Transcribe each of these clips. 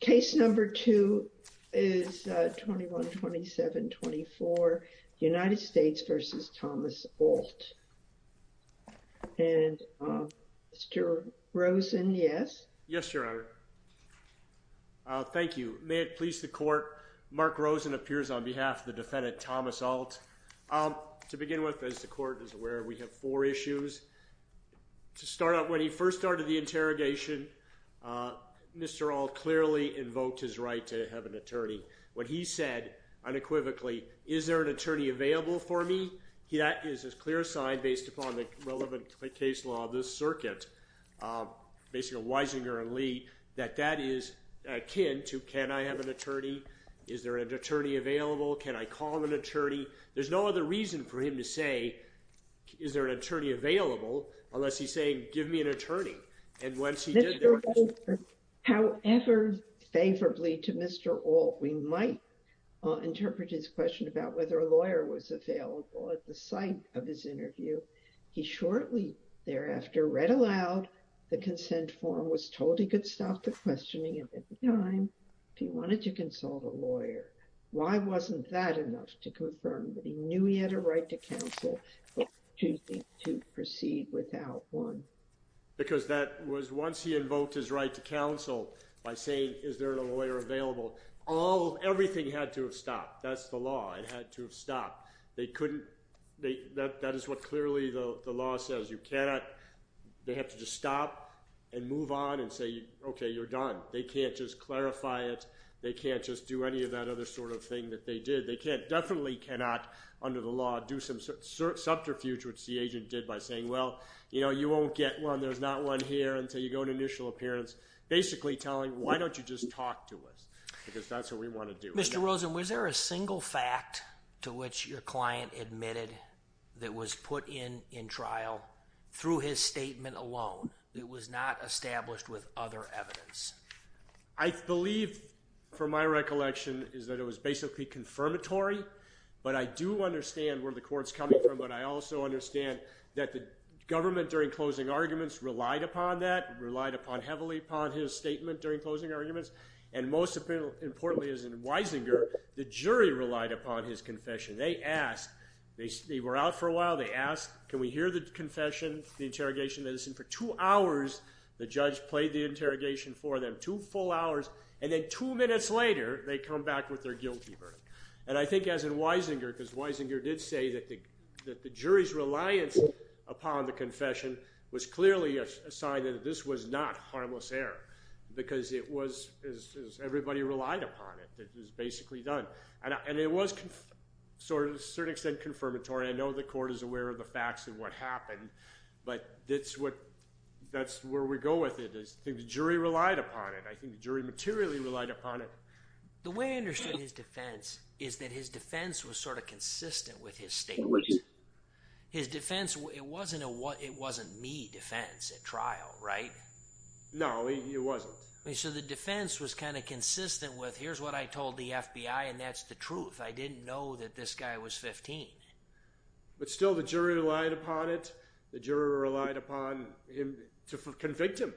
Case number two is 21-27-24, United States v. Thomas Alt. And Mr. Rosen, yes? Yes, Your Honor. Thank you. May it please the Court, Mark Rosen appears on behalf of the defendant Thomas Alt. To begin with, as the Court is aware, we have four issues. To start out, when he first started the interrogation, Mr. Alt clearly invoked his right to have an attorney. What he said, unequivocally, is there an attorney available for me? That is a clear sign, based upon the relevant case law of this circuit, basically Weisinger and Lee, that that is akin to, can I have an attorney? Is there an attorney available? Can I call an attorney? There's no other reason for him to say, is there an attorney available? Unless he's saying, give me an attorney. Mr. Rosen, however favorably to Mr. Alt, we might interpret his question about whether a lawyer was available at the site of his interview. He shortly thereafter read aloud the consent form, was told he could stop the questioning at any time if he wanted to consult a lawyer. Why wasn't that enough to confirm that he knew he had a right to counsel, but choosing to proceed without one? Because that was once he invoked his right to counsel by saying, is there a lawyer available? All, everything had to have stopped. That's the law. It had to have stopped. They couldn't, that is what clearly the law says. You cannot, they have to just stop and move on and say, okay, you're done. They can't just clarify it. They can't just do any of that other sort of thing that they did. They can't, definitely cannot under the law do some subterfuge, which the agent did by saying, well, you know, you won't get one. There's not one here until you go to initial appearance. Basically telling, why don't you just talk to us? Because that's what we want to do. Mr. Rosen, was there a single fact to which your client admitted that was put in in trial through his statement alone? It was not established with other evidence. I believe, from my recollection, is that it was basically confirmatory. But I do understand where the court's coming from. But I also understand that the government during closing arguments relied upon that, relied heavily upon his statement during closing arguments. And most importantly, as in Weisinger, the jury relied upon his confession. They were out for a while. They asked, can we hear the confession, the interrogation? And for two hours, the judge played the interrogation for them, two full hours. And then two minutes later, they come back with their guilty verdict. And I think as in Weisinger, because Weisinger did say that the jury's reliance upon the confession was clearly a sign that this was not harmless error. Because it was – everybody relied upon it. It was basically done. And it was to a certain extent confirmatory. I know the court is aware of the facts and what happened. But that's what – that's where we go with it is the jury relied upon it. I think the jury materially relied upon it. The way I understood his defense is that his defense was sort of consistent with his statement. His defense – it wasn't a – it wasn't me defense at trial, right? No, it wasn't. So the defense was kind of consistent with here's what I told the FBI, and that's the truth. I didn't know that this guy was 15. But still the jury relied upon it. The jury relied upon him to convict him.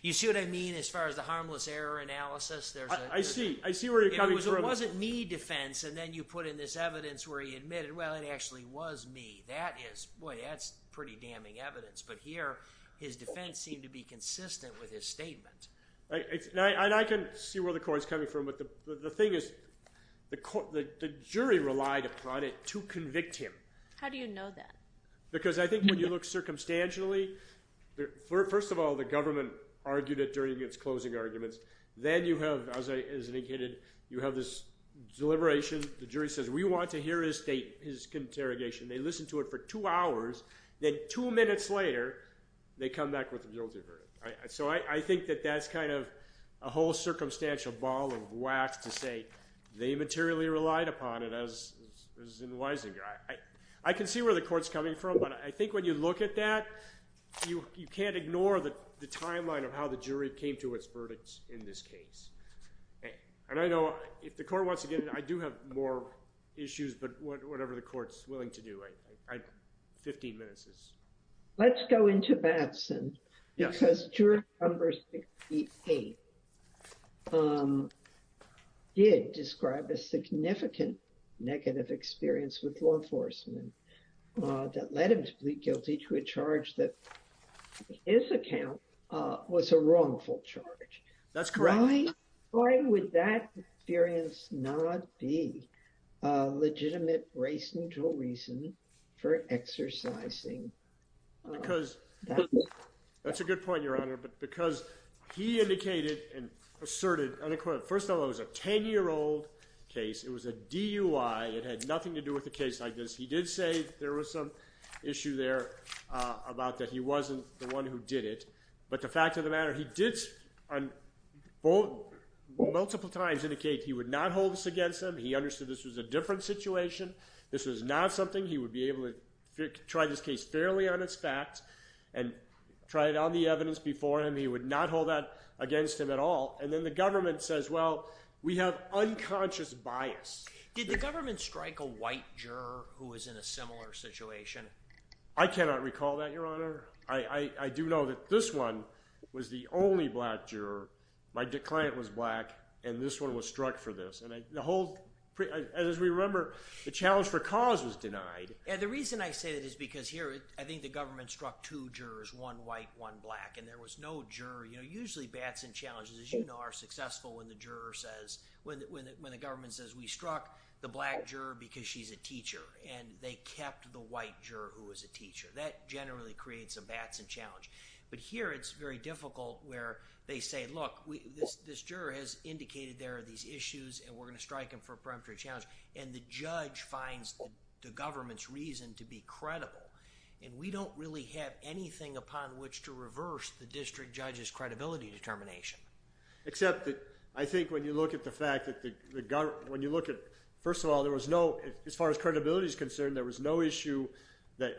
You see what I mean as far as the harmless error analysis? I see. I see where you're coming from. It wasn't me defense. And then you put in this evidence where he admitted, well, it actually was me. That is – boy, that's pretty damning evidence. But here his defense seemed to be consistent with his statement. I can see where the court is coming from. But the thing is the jury relied upon it to convict him. How do you know that? Because I think when you look circumstantially, first of all, the government argued it during its closing arguments. Then you have, as I indicated, you have this deliberation. The jury says we want to hear his interrogation. They listened to it for two hours. Then two minutes later, they come back with a guilty verdict. So I think that that's kind of a whole circumstantial ball of wax to say they materially relied upon it as in Weisinger. I can see where the court is coming from. But I think when you look at that, you can't ignore the timeline of how the jury came to its verdicts in this case. And I know if the court wants to get in, I do have more issues. But whatever the court is willing to do, I – 15 minutes is – Let's go into Batson. Because jury number 68 did describe a significant negative experience with law enforcement that led him to plead guilty to a charge that in his account was a wrongful charge. That's correct. Why would that experience not be a legitimate race neutral reason for exercising that? Because – that's a good point, Your Honor. But because he indicated and asserted unequivocally – first of all, it was a 10-year-old case. It was a DUI. It had nothing to do with a case like this. He did say there was some issue there about that he wasn't the one who did it. But the fact of the matter, he did multiple times indicate he would not hold this against him. He understood this was a different situation. This was not something he would be able to try this case fairly on its facts and try it on the evidence before him. He would not hold that against him at all. And then the government says, well, we have unconscious bias. Did the government strike a white juror who was in a similar situation? I cannot recall that, Your Honor. I do know that this one was the only black juror. My client was black, and this one was struck for this. And the whole – as we remember, the challenge for cause was denied. The reason I say that is because here I think the government struck two jurors, one white, one black, and there was no juror. Usually Batson challenges, as you know, are successful when the juror says – when the government says we struck the black juror because she's a teacher. That generally creates a Batson challenge. But here it's very difficult where they say, look, this juror has indicated there are these issues, and we're going to strike him for a peremptory challenge. And the judge finds the government's reason to be credible. And we don't really have anything upon which to reverse the district judge's credibility determination. Except that I think when you look at the fact that the – when you look at – first of all, there was no – as far as credibility is concerned, there was no issue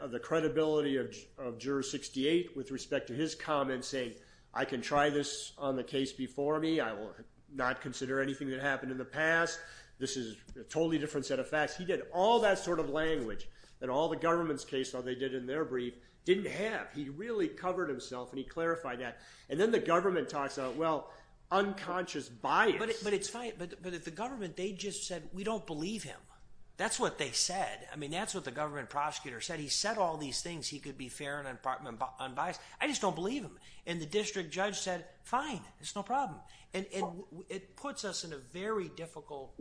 of the credibility of Juror 68 with respect to his comments saying, I can try this on the case before me. I will not consider anything that happened in the past. This is a totally different set of facts. He did all that sort of language that all the government's cases that they did in their brief didn't have. He really covered himself, and he clarified that. And then the government talks about, well, unconscious bias. But it's fine. But the government, they just said, we don't believe him. That's what they said. I mean, that's what the government prosecutor said. He said all these things. He could be fair and unbiased. I just don't believe him. And the district judge said, fine, it's no problem. And it puts us in a very difficult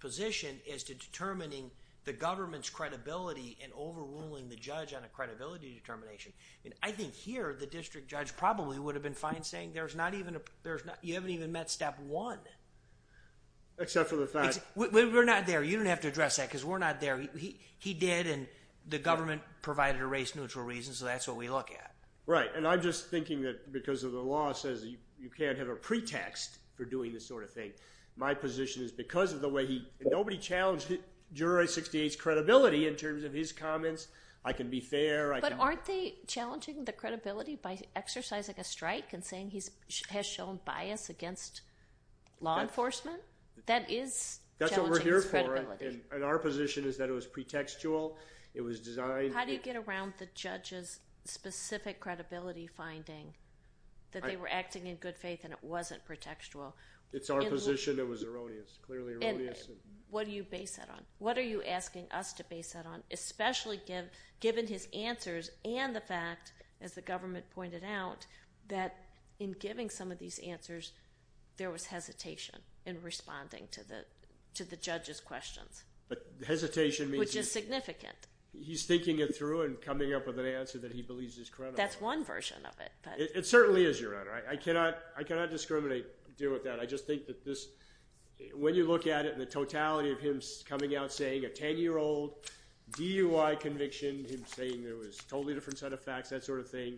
position as to determining the government's credibility and overruling the judge on a credibility determination. And I think here the district judge probably would have been fine saying there's not even – you haven't even met step one. Except for the fact – We're not there. You don't have to address that because we're not there. He did, and the government provided a race-neutral reason. So that's what we look at. Right. And I'm just thinking that because of the law says you can't have a pretext for doing this sort of thing. My position is because of the way he – nobody challenged Jury 68's credibility in terms of his comments. I can be fair. But aren't they challenging the credibility by exercising a strike and saying he has shown bias against law enforcement? That is challenging his credibility. And our position is that it was pretextual. It was designed – How do you get around the judge's specific credibility finding that they were acting in good faith and it wasn't pretextual? It's our position it was erroneous, clearly erroneous. And what do you base that on? What are you asking us to base that on, especially given his answers and the fact, as the government pointed out, that in giving some of these answers there was hesitation in responding to the judge's questions? But hesitation means – Which is significant. He's thinking it through and coming up with an answer that he believes is credible. That's one version of it. It certainly is, Your Honor. I cannot discriminate or deal with that. I just think that this – when you look at it and the totality of him coming out saying a 10-year-old DUI conviction, him saying there was a totally different set of facts, that sort of thing,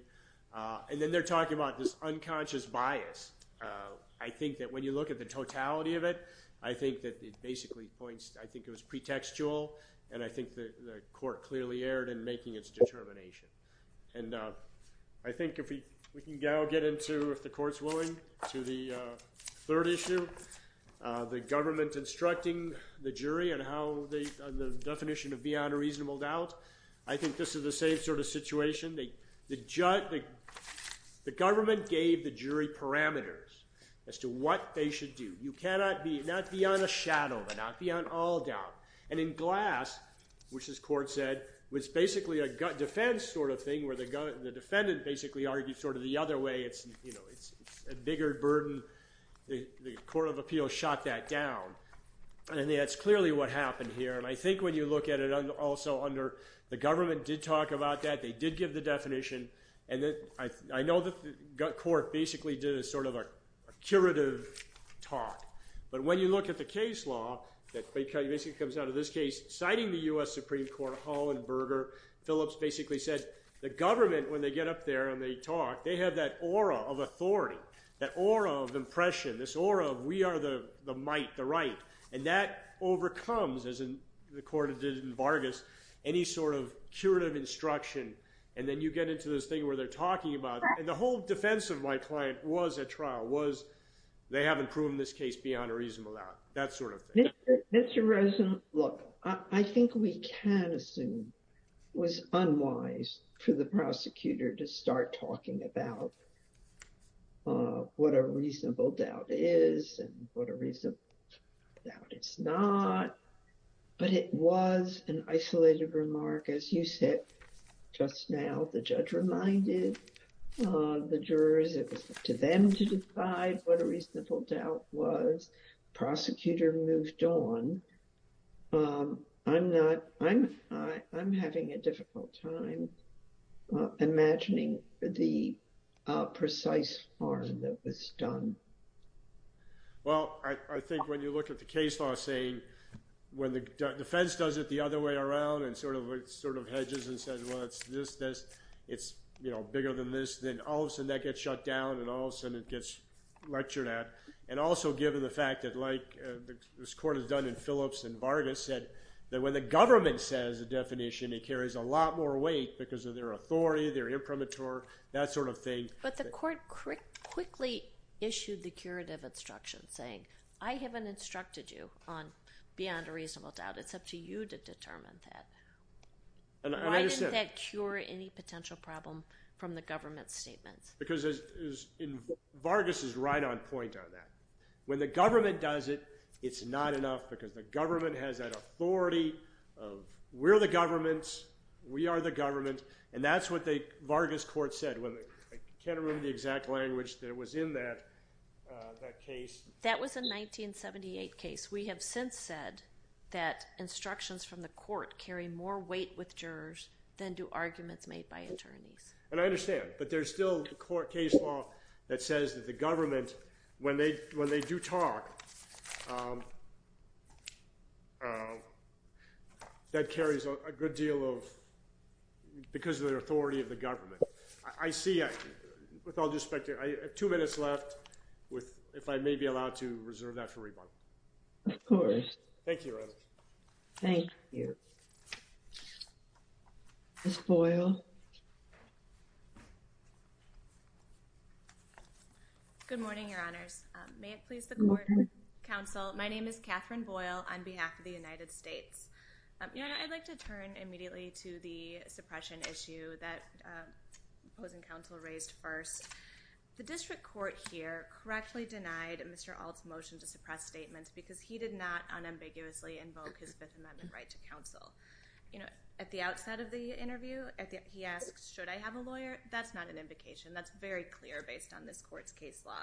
and then they're talking about this unconscious bias. I think that when you look at the totality of it, I think that it basically points – I think it was pretextual and I think the court clearly erred in making its determination. And I think if we can now get into, if the court's willing, to the third issue, the government instructing the jury on the definition of beyond a reasonable doubt. I think this is the same sort of situation. The government gave the jury parameters as to what they should do. You cannot be – not beyond a shadow, but not beyond all doubt. And in Glass, which this court said was basically a defense sort of thing, where the defendant basically argued sort of the other way. It's a bigger burden. The court of appeals shot that down. And that's clearly what happened here. And I think when you look at it also under – the government did talk about that. They did give the definition. And I know the court basically did a sort of a curative talk. But when you look at the case law that basically comes out of this case, citing the U.S. Supreme Court, Hollenberger, Phillips basically said the government, when they get up there and they talk, they have that aura of authority, that aura of impression, this aura of we are the might, the right. And that overcomes, as the court did in Vargas, any sort of curative instruction. And then you get into this thing where they're talking about – and the whole defense of my client was at trial was they haven't proven this case beyond a reasonable doubt, that sort of thing. Mr. Rosen, look, I think we can assume it was unwise for the prosecutor to start talking about what a reasonable doubt is and what a reasonable doubt is not. But it was an isolated remark, as you said just now. The judge reminded the jurors it was up to them to decide what a reasonable doubt was. The prosecutor moved on. I'm not – I'm having a difficult time imagining the precise form that was done. Well, I think when you look at the case law saying when the defense does it the other way around and sort of hedges and says, well, it's this, this, it's bigger than this, then all of a sudden that gets shut down and all of a sudden it gets lectured at. And also given the fact that like this court has done in Phillips and Vargas said that when the government says a definition, it carries a lot more weight because of their authority, their imprimatur, that sort of thing. But the court quickly issued the curative instruction saying I haven't instructed you on beyond a reasonable doubt. It's up to you to determine that. And I understand. Why didn't that cure any potential problem from the government's statements? Because Vargas is right on point on that. When the government does it, it's not enough because the government has that authority of we're the government, we are the government, and that's what the Vargas court said. I can't remember the exact language that was in that case. That was a 1978 case. We have since said that instructions from the court carry more weight with jurors than do arguments made by attorneys. And I understand. But there's still a court case law that says that the government, when they do talk, that carries a good deal of because of their authority of the government. I see, with all due respect, I have two minutes left if I may be allowed to reserve that for rebuttal. Of course. Thank you. Thank you. Ms. Boyle. Good morning, Your Honors. May it please the court and counsel, my name is Catherine Boyle on behalf of the United States. I'd like to turn immediately to the suppression issue that opposing counsel raised first. The district court here correctly denied Mr. Ault's motion to suppress statements because he did not unambiguously invoke his Fifth Amendment right to counsel. At the outset of the interview, he asked, should I have a lawyer? That's not an invocation. That's very clear based on this court's case law.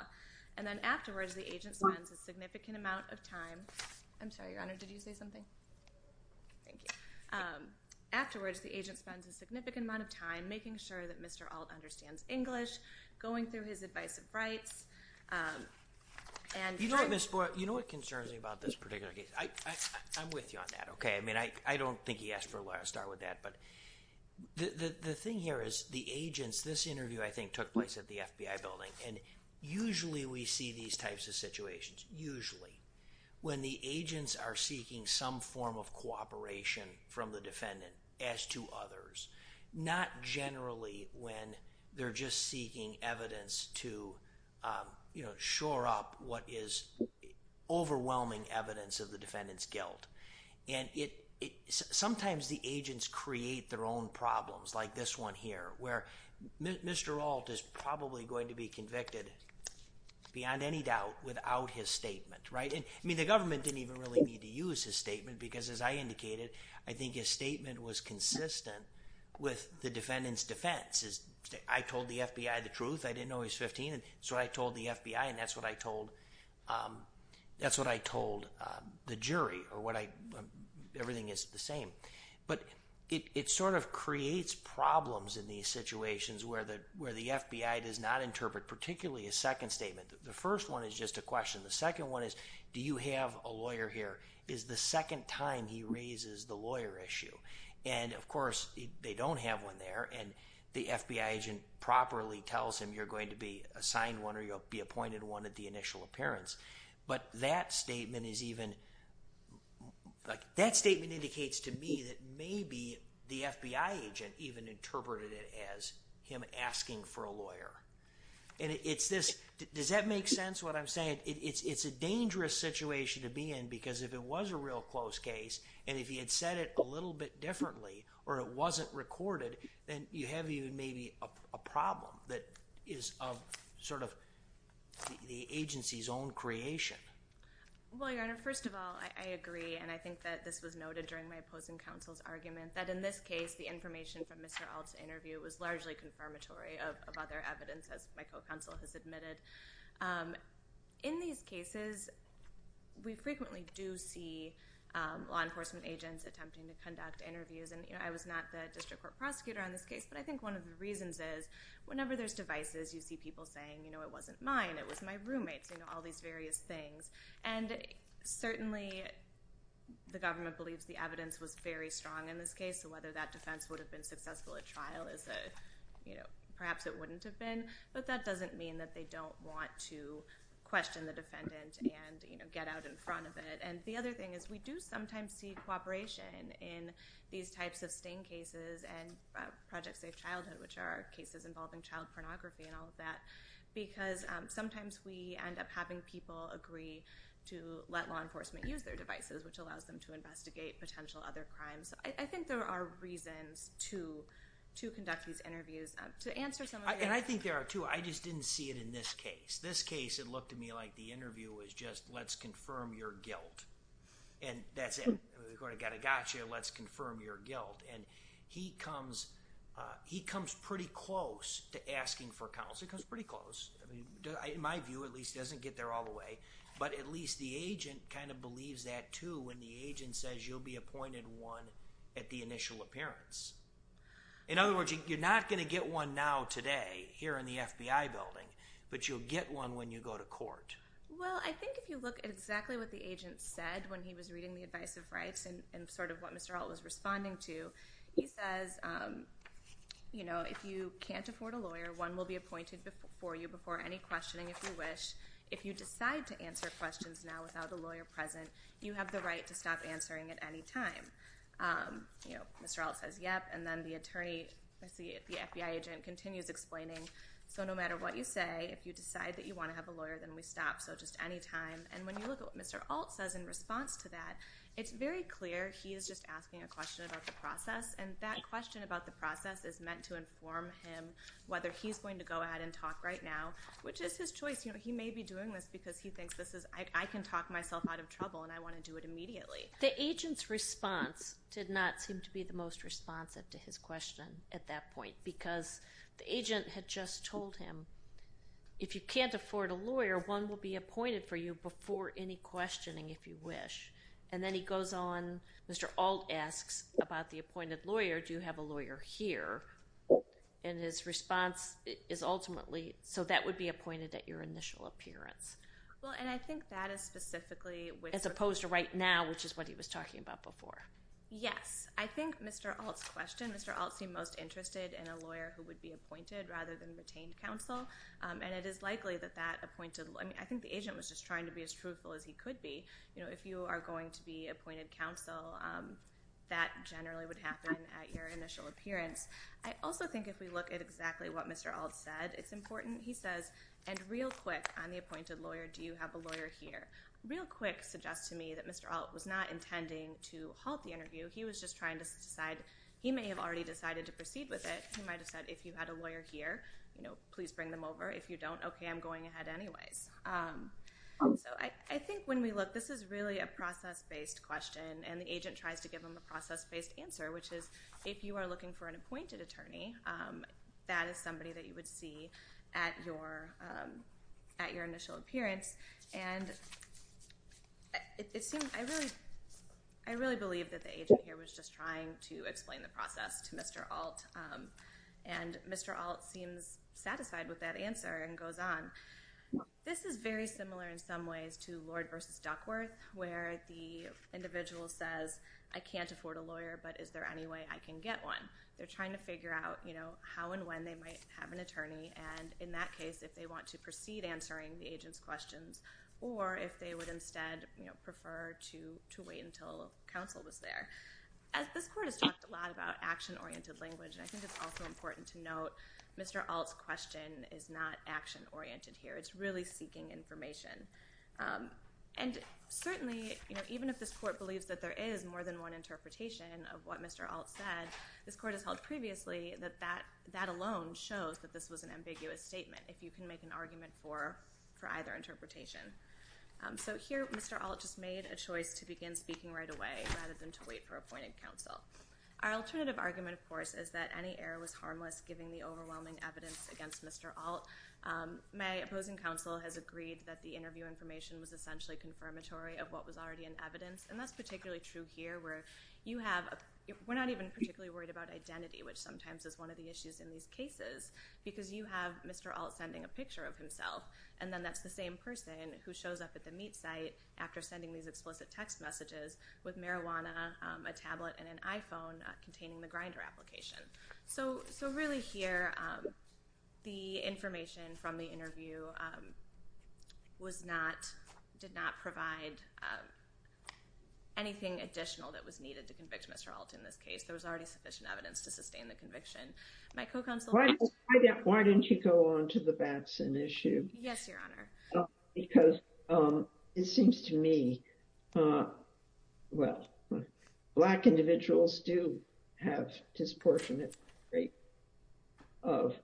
And then afterwards, the agent spends a significant amount of time. I'm sorry, Your Honor, did you say something? Thank you. Afterwards, the agent spends a significant amount of time making sure that Mr. Ault understands English, going through his advice of rights. You know what, Ms. Boyle? You know what concerns me about this particular case? I'm with you on that, okay? I mean, I don't think he asked for a lawyer to start with that. But the thing here is the agents, this interview I think took place at the FBI building, and usually we see these types of situations, usually, when the agents are seeking some form of cooperation from the defendant as to others, not generally when they're just seeking evidence to, you know, shore up what is overwhelming evidence of the defendant's guilt. And sometimes the agents create their own problems, like this one here, where Mr. Ault is probably going to be convicted beyond any doubt without his statement, right? I mean, the government didn't even really need to use his statement because, as I indicated, I think his statement was consistent with the defendant's defense. I told the FBI the truth. I didn't know he was 15, and so I told the FBI, and that's what I told the jury. Everything is the same. But it sort of creates problems in these situations where the FBI does not interpret, particularly a second statement. The first one is just a question. The second one is, do you have a lawyer here? Is the second time he raises the lawyer issue. And, of course, they don't have one there, and the FBI agent properly tells him you're going to be assigned one or you'll be appointed one at the initial appearance. But that statement is even, like, that statement indicates to me that maybe the FBI agent even interpreted it as him asking for a lawyer. And it's this, does that make sense, what I'm saying? And it's a dangerous situation to be in because if it was a real close case and if he had said it a little bit differently or it wasn't recorded, then you have even maybe a problem that is of sort of the agency's own creation. Well, Your Honor, first of all, I agree, and I think that this was noted during my opposing counsel's argument, that in this case the information from Mr. Alts' interview was largely confirmatory of other evidence, as my co-counsel has admitted. In these cases, we frequently do see law enforcement agents attempting to conduct interviews, and I was not the district court prosecutor on this case, but I think one of the reasons is whenever there's devices, you see people saying, you know, it wasn't mine, it was my roommate's, you know, all these various things. And certainly the government believes the evidence was very strong in this case, so whether that defense would have been successful at trial is perhaps it wouldn't have been, but that doesn't mean that they don't want to question the defendant and, you know, get out in front of it. And the other thing is we do sometimes see cooperation in these types of sting cases and Project Safe Childhood, which are cases involving child pornography and all of that, because sometimes we end up having people agree to let law enforcement use their devices, which allows them to investigate potential other crimes. So I think there are reasons to conduct these interviews. And I think there are, too. I just didn't see it in this case. This case, it looked to me like the interview was just let's confirm your guilt. And that's it. We've got a gotcha, let's confirm your guilt. And he comes pretty close to asking for counsel. He comes pretty close. In my view, at least, he doesn't get there all the way, but at least the agent kind of believes that, too, when the agent says you'll be appointed one at the initial appearance. In other words, you're not going to get one now today here in the FBI building, but you'll get one when you go to court. Well, I think if you look at exactly what the agent said when he was reading the advice of rights and sort of what Mr. Ault was responding to, he says, you know, if you can't afford a lawyer, one will be appointed for you before any questioning if you wish. If you decide to answer questions now without a lawyer present, you have the right to stop answering at any time. You know, Mr. Ault says, yep, and then the attorney, the FBI agent, continues explaining, so no matter what you say, if you decide that you want to have a lawyer, then we stop. So just any time. And when you look at what Mr. Ault says in response to that, it's very clear he is just asking a question about the process, and that question about the process is meant to inform him whether he's going to go ahead and talk right now, which is his choice. You know, he may be doing this because he thinks this is, I can talk myself out of trouble and I want to do it immediately. The agent's response did not seem to be the most responsive to his question at that point because the agent had just told him, if you can't afford a lawyer, one will be appointed for you before any questioning if you wish. And then he goes on, Mr. Ault asks about the appointed lawyer, do you have a lawyer here? And his response is ultimately, so that would be appointed at your initial appearance. Well, and I think that is specifically which- As opposed to right now, which is what he was talking about before. Yes. I think Mr. Ault's question, Mr. Ault seemed most interested in a lawyer who would be appointed rather than retained counsel, and it is likely that that appointed, I think the agent was just trying to be as truthful as he could be. You know, if you are going to be appointed counsel, that generally would happen at your initial appearance. I also think if we look at exactly what Mr. Ault said, it's important. He says, and real quick on the appointed lawyer, do you have a lawyer here? Real quick suggests to me that Mr. Ault was not intending to halt the interview. He was just trying to decide. He may have already decided to proceed with it. He might have said, if you had a lawyer here, please bring them over. If you don't, okay, I'm going ahead anyways. So I think when we look, this is really a process-based question, and the agent tries to give them a process-based answer, which is if you are looking for an appointed attorney, that is somebody that you would see at your initial appearance. And I really believe that the agent here was just trying to explain the process to Mr. Ault, and Mr. Ault seems satisfied with that answer and goes on. This is very similar in some ways to Lord v. Duckworth, where the individual says, I can't afford a lawyer, but is there any way I can get one? They're trying to figure out how and when they might have an attorney, and in that case, if they want to proceed answering the agent's questions or if they would instead prefer to wait until counsel was there. This court has talked a lot about action-oriented language, and I think it's also important to note Mr. Ault's question is not action-oriented here. It's really seeking information. And certainly, even if this court believes that there is more than one interpretation of what Mr. Ault said, this court has held previously that that alone shows that this was an ambiguous statement, if you can make an argument for either interpretation. So here Mr. Ault just made a choice to begin speaking right away rather than to wait for appointed counsel. Our alternative argument, of course, is that any error was harmless, given the overwhelming evidence against Mr. Ault. My opposing counsel has agreed that the interview information was essentially confirmatory of what was already in evidence, and that's particularly true here where we're not even particularly worried about identity, which sometimes is one of the issues in these cases, because you have Mr. Ault sending a picture of himself, and then that's the same person who shows up at the meat site after sending these explicit text messages with marijuana, a tablet, and an iPhone containing the grinder application. So really here, the information from the interview did not provide anything additional that was needed to convict Mr. Ault in this case. There was already sufficient evidence to sustain the conviction. My co-counsel— Why don't you go on to the Batson issue? Yes, Your Honor. Because it seems to me, well, black individuals do have disproportionate rate of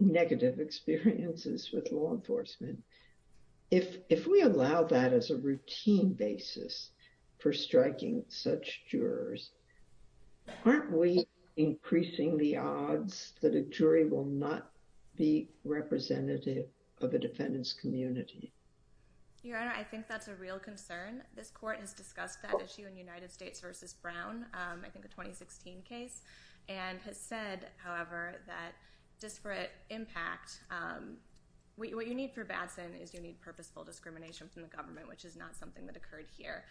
negative experiences with law enforcement. If we allow that as a routine basis for striking such jurors, aren't we increasing the odds that a jury will not be representative of a defendant's community? Your Honor, I think that's a real concern. This court has discussed that issue in United States v. Brown, I think a 2016 case, and has said, however, that disparate impact—what you need for Batson is you need purposeful discrimination from the government, which is not something that occurred here.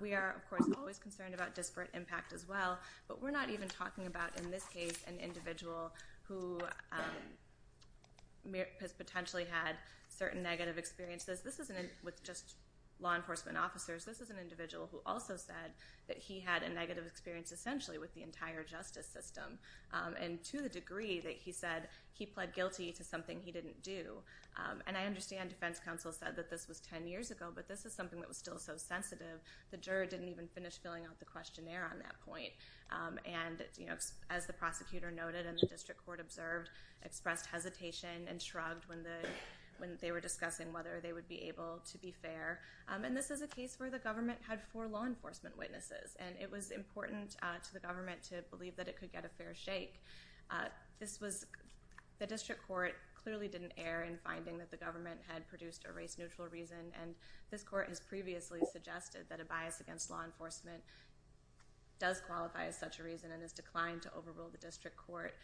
We are, of course, always concerned about disparate impact as well, but we're not even talking about, in this case, an individual who has potentially had certain negative experiences. With just law enforcement officers, this is an individual who also said that he had a negative experience, essentially, with the entire justice system, and to the degree that he said he pled guilty to something he didn't do. And I understand defense counsel said that this was 10 years ago, but this is something that was still so sensitive, the juror didn't even finish filling out the questionnaire on that point. And as the prosecutor noted and the district court observed, the juror expressed hesitation and shrugged when they were discussing whether they would be able to be fair. And this is a case where the government had four law enforcement witnesses, and it was important to the government to believe that it could get a fair shake. The district court clearly didn't err in finding that the government had produced a race-neutral reason, and this court has previously suggested that a bias against law enforcement does qualify as such a reason and has declined to overrule the district court,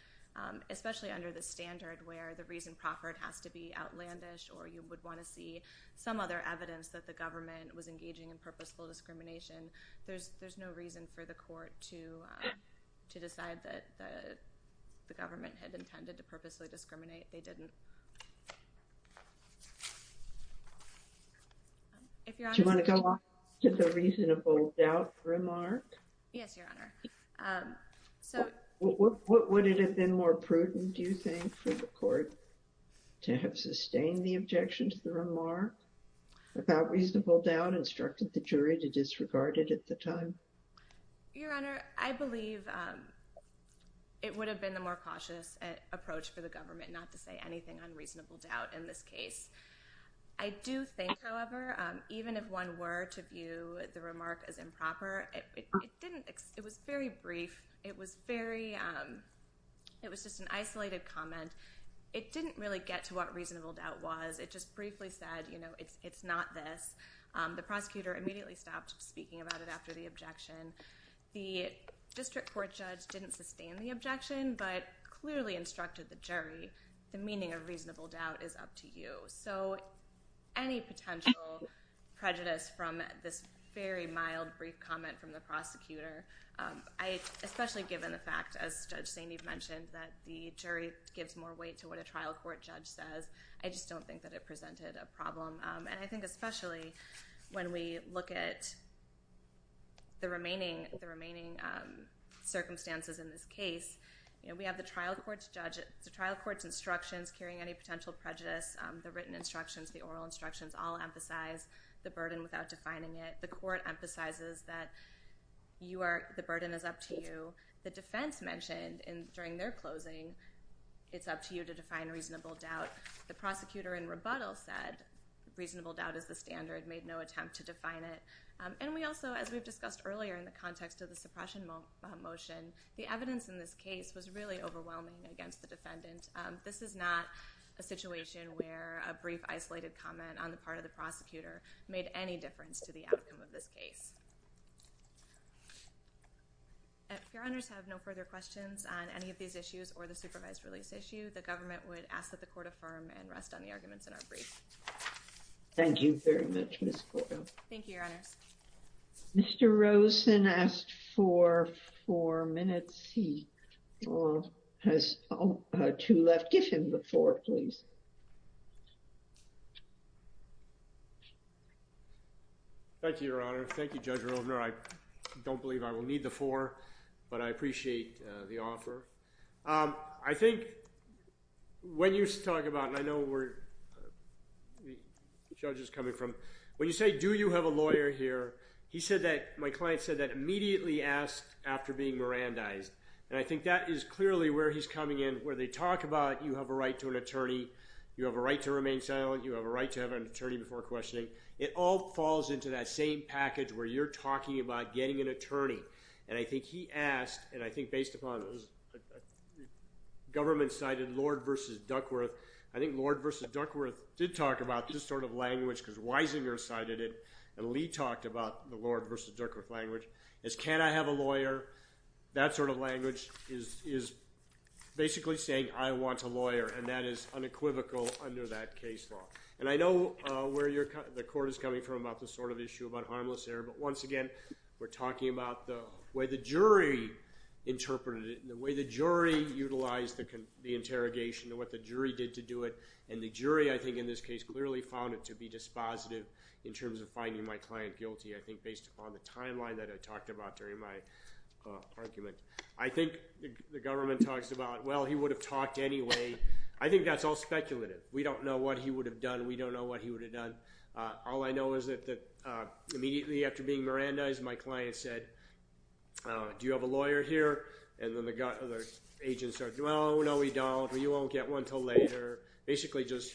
especially under the standard where the reason proffered has to be outlandish or you would want to see some other evidence that the government was engaging in purposeful discrimination. There's no reason for the court to decide that the government had intended to purposefully discriminate. They didn't. Do you want to go on to the reasonable doubt remark? Yes, Your Honor. Would it have been more prudent, do you think, for the court to have sustained the objection to the remark about reasonable doubt and instructed the jury to disregard it at the time? Your Honor, I believe it would have been the more cautious approach for the government not to say anything on reasonable doubt in this case. I do think, however, even if one were to view the remark as improper, it was very brief. It was just an isolated comment. It didn't really get to what reasonable doubt was. It just briefly said, you know, it's not this. The prosecutor immediately stopped speaking about it after the objection. The district court judge didn't sustain the objection but clearly instructed the jury, the meaning of reasonable doubt is up to you. So any potential prejudice from this very mild brief comment from the prosecutor, especially given the fact, as Judge Sainteve mentioned, that the jury gives more weight to what a trial court judge says, I just don't think that it presented a problem. And I think especially when we look at the remaining circumstances in this case, we have the trial court's instructions carrying any potential prejudice. The written instructions, the oral instructions all emphasize the burden without defining it. The court emphasizes that the burden is up to you. The defense mentioned during their closing it's up to you to define reasonable doubt. The prosecutor in rebuttal said reasonable doubt is the standard, made no attempt to define it. And we also, as we've discussed earlier in the context of the suppression motion, the evidence in this case was really overwhelming against the defendant. This is not a situation where a brief isolated comment on the part of the prosecutor made any difference to the outcome of this case. If your honors have no further questions on any of these issues or the supervised release issue, the government would ask that the court affirm and rest on the arguments in our brief. Thank you very much, Ms. Cordova. Thank you, your honors. Mr. Rosen asked for four minutes. He has two left. Give him the four, please. Thank you, your honor. Thank you, Judge Rovner. I don't believe I will need the four, but I appreciate the offer. I think when you talk about, and I know where the judge is coming from, when you say do you have a lawyer here, he said that, my client said that immediately asked after being Mirandized. And I think that is clearly where he's coming in, where they talk about you have a right to an attorney, you have a right to remain silent, you have a right to have an attorney before questioning. It all falls into that same package where you're talking about getting an attorney. And I think he asked, and I think based upon what the government cited, Lord v. Duckworth. I think Lord v. Duckworth did talk about this sort of language because Weisinger cited it, and Lee talked about the Lord v. Duckworth language. As can I have a lawyer, that sort of language is basically saying I want a lawyer, and that is unequivocal under that case law. And I know where the court is coming from about this sort of issue about harmless error, but once again, we're talking about the way the jury interpreted it and the way the jury utilized the interrogation and what the jury did to do it. And the jury, I think in this case, clearly found it to be dispositive in terms of finding my client guilty, I think based upon the timeline that I talked about during my argument. I think the government talks about, well, he would have talked anyway. I think that's all speculative. We don't know what he would have done. We don't know what he would have done. All I know is that immediately after being Mirandized, my client said, do you have a lawyer here? And then the agents started, well, no, we don't. You won't get one until later. Basically just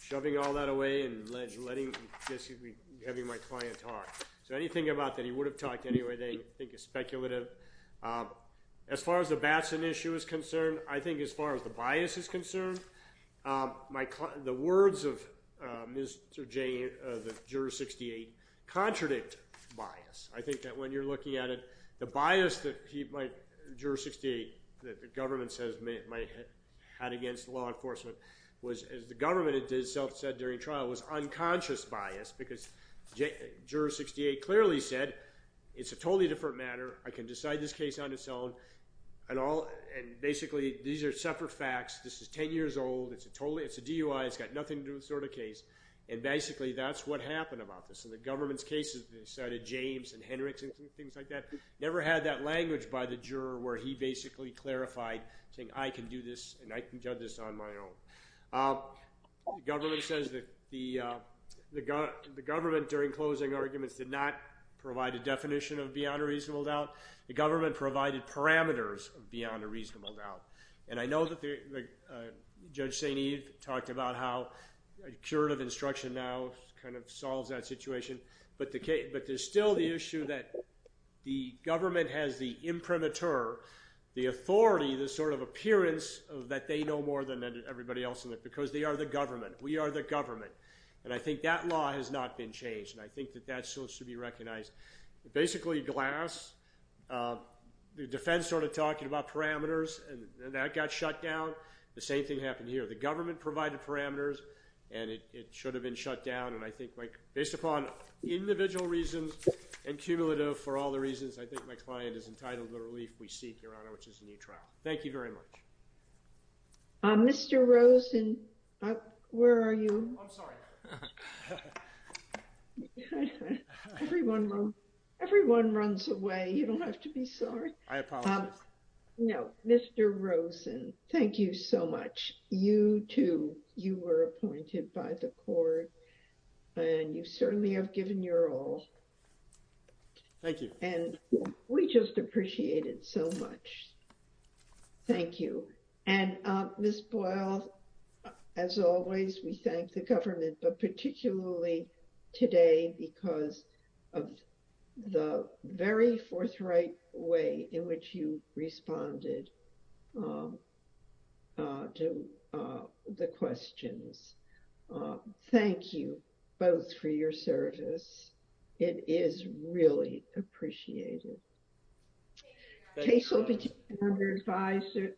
shoving all that away and just having my client talk. So anything about that he would have talked anyway they think is speculative. As far as the Batson issue is concerned, I think as far as the bias is concerned, the words of Mr. Jay, the juror 68, contradict bias. I think that when you're looking at it, the bias that he might, juror 68, that the government says might have had against law enforcement was, as the government itself said during trial, was unconscious bias because juror 68 clearly said it's a totally different matter. I can decide this case on its own. And basically these are separate facts. This is 10 years old. It's a DUI. It's got nothing to do with this sort of case. And basically that's what happened about this. In the government's cases, they cited James and Hendricks and things like that. Never had that language by the juror where he basically clarified saying I can do this and I can judge this on my own. The government says that the government during closing arguments did not provide a definition of beyond a reasonable doubt. The government provided parameters of beyond a reasonable doubt. And I know that Judge St. Eve talked about how curative instruction now kind of solves that situation. But there's still the issue that the government has the imprimatur, the authority, the sort of appearance that they know more than everybody else in it because they are the government. We are the government. And I think that law has not been changed. And I think that that still should be recognized. Basically Glass, the defense started talking about parameters and that got shut down. The same thing happened here. The government provided parameters and it should have been shut down. And I think based upon individual reasons and cumulative for all the reasons, I think my client is entitled to the relief we seek, Your Honor, which is a new trial. Thank you very much. Mr. Rosen, where are you? I'm sorry. Everyone runs away. You don't have to be sorry. I apologize. No. Mr. Rosen, thank you so much. You too. You were appointed by the court and you certainly have given your all. Thank you. And we just appreciate it so much. Thank you. And Ms. Boyle, as always, we thank the government, but particularly today because of the very forthright way in which you responded to the questions. Thank you both for your service. It is really appreciated. Thank you. Thank you.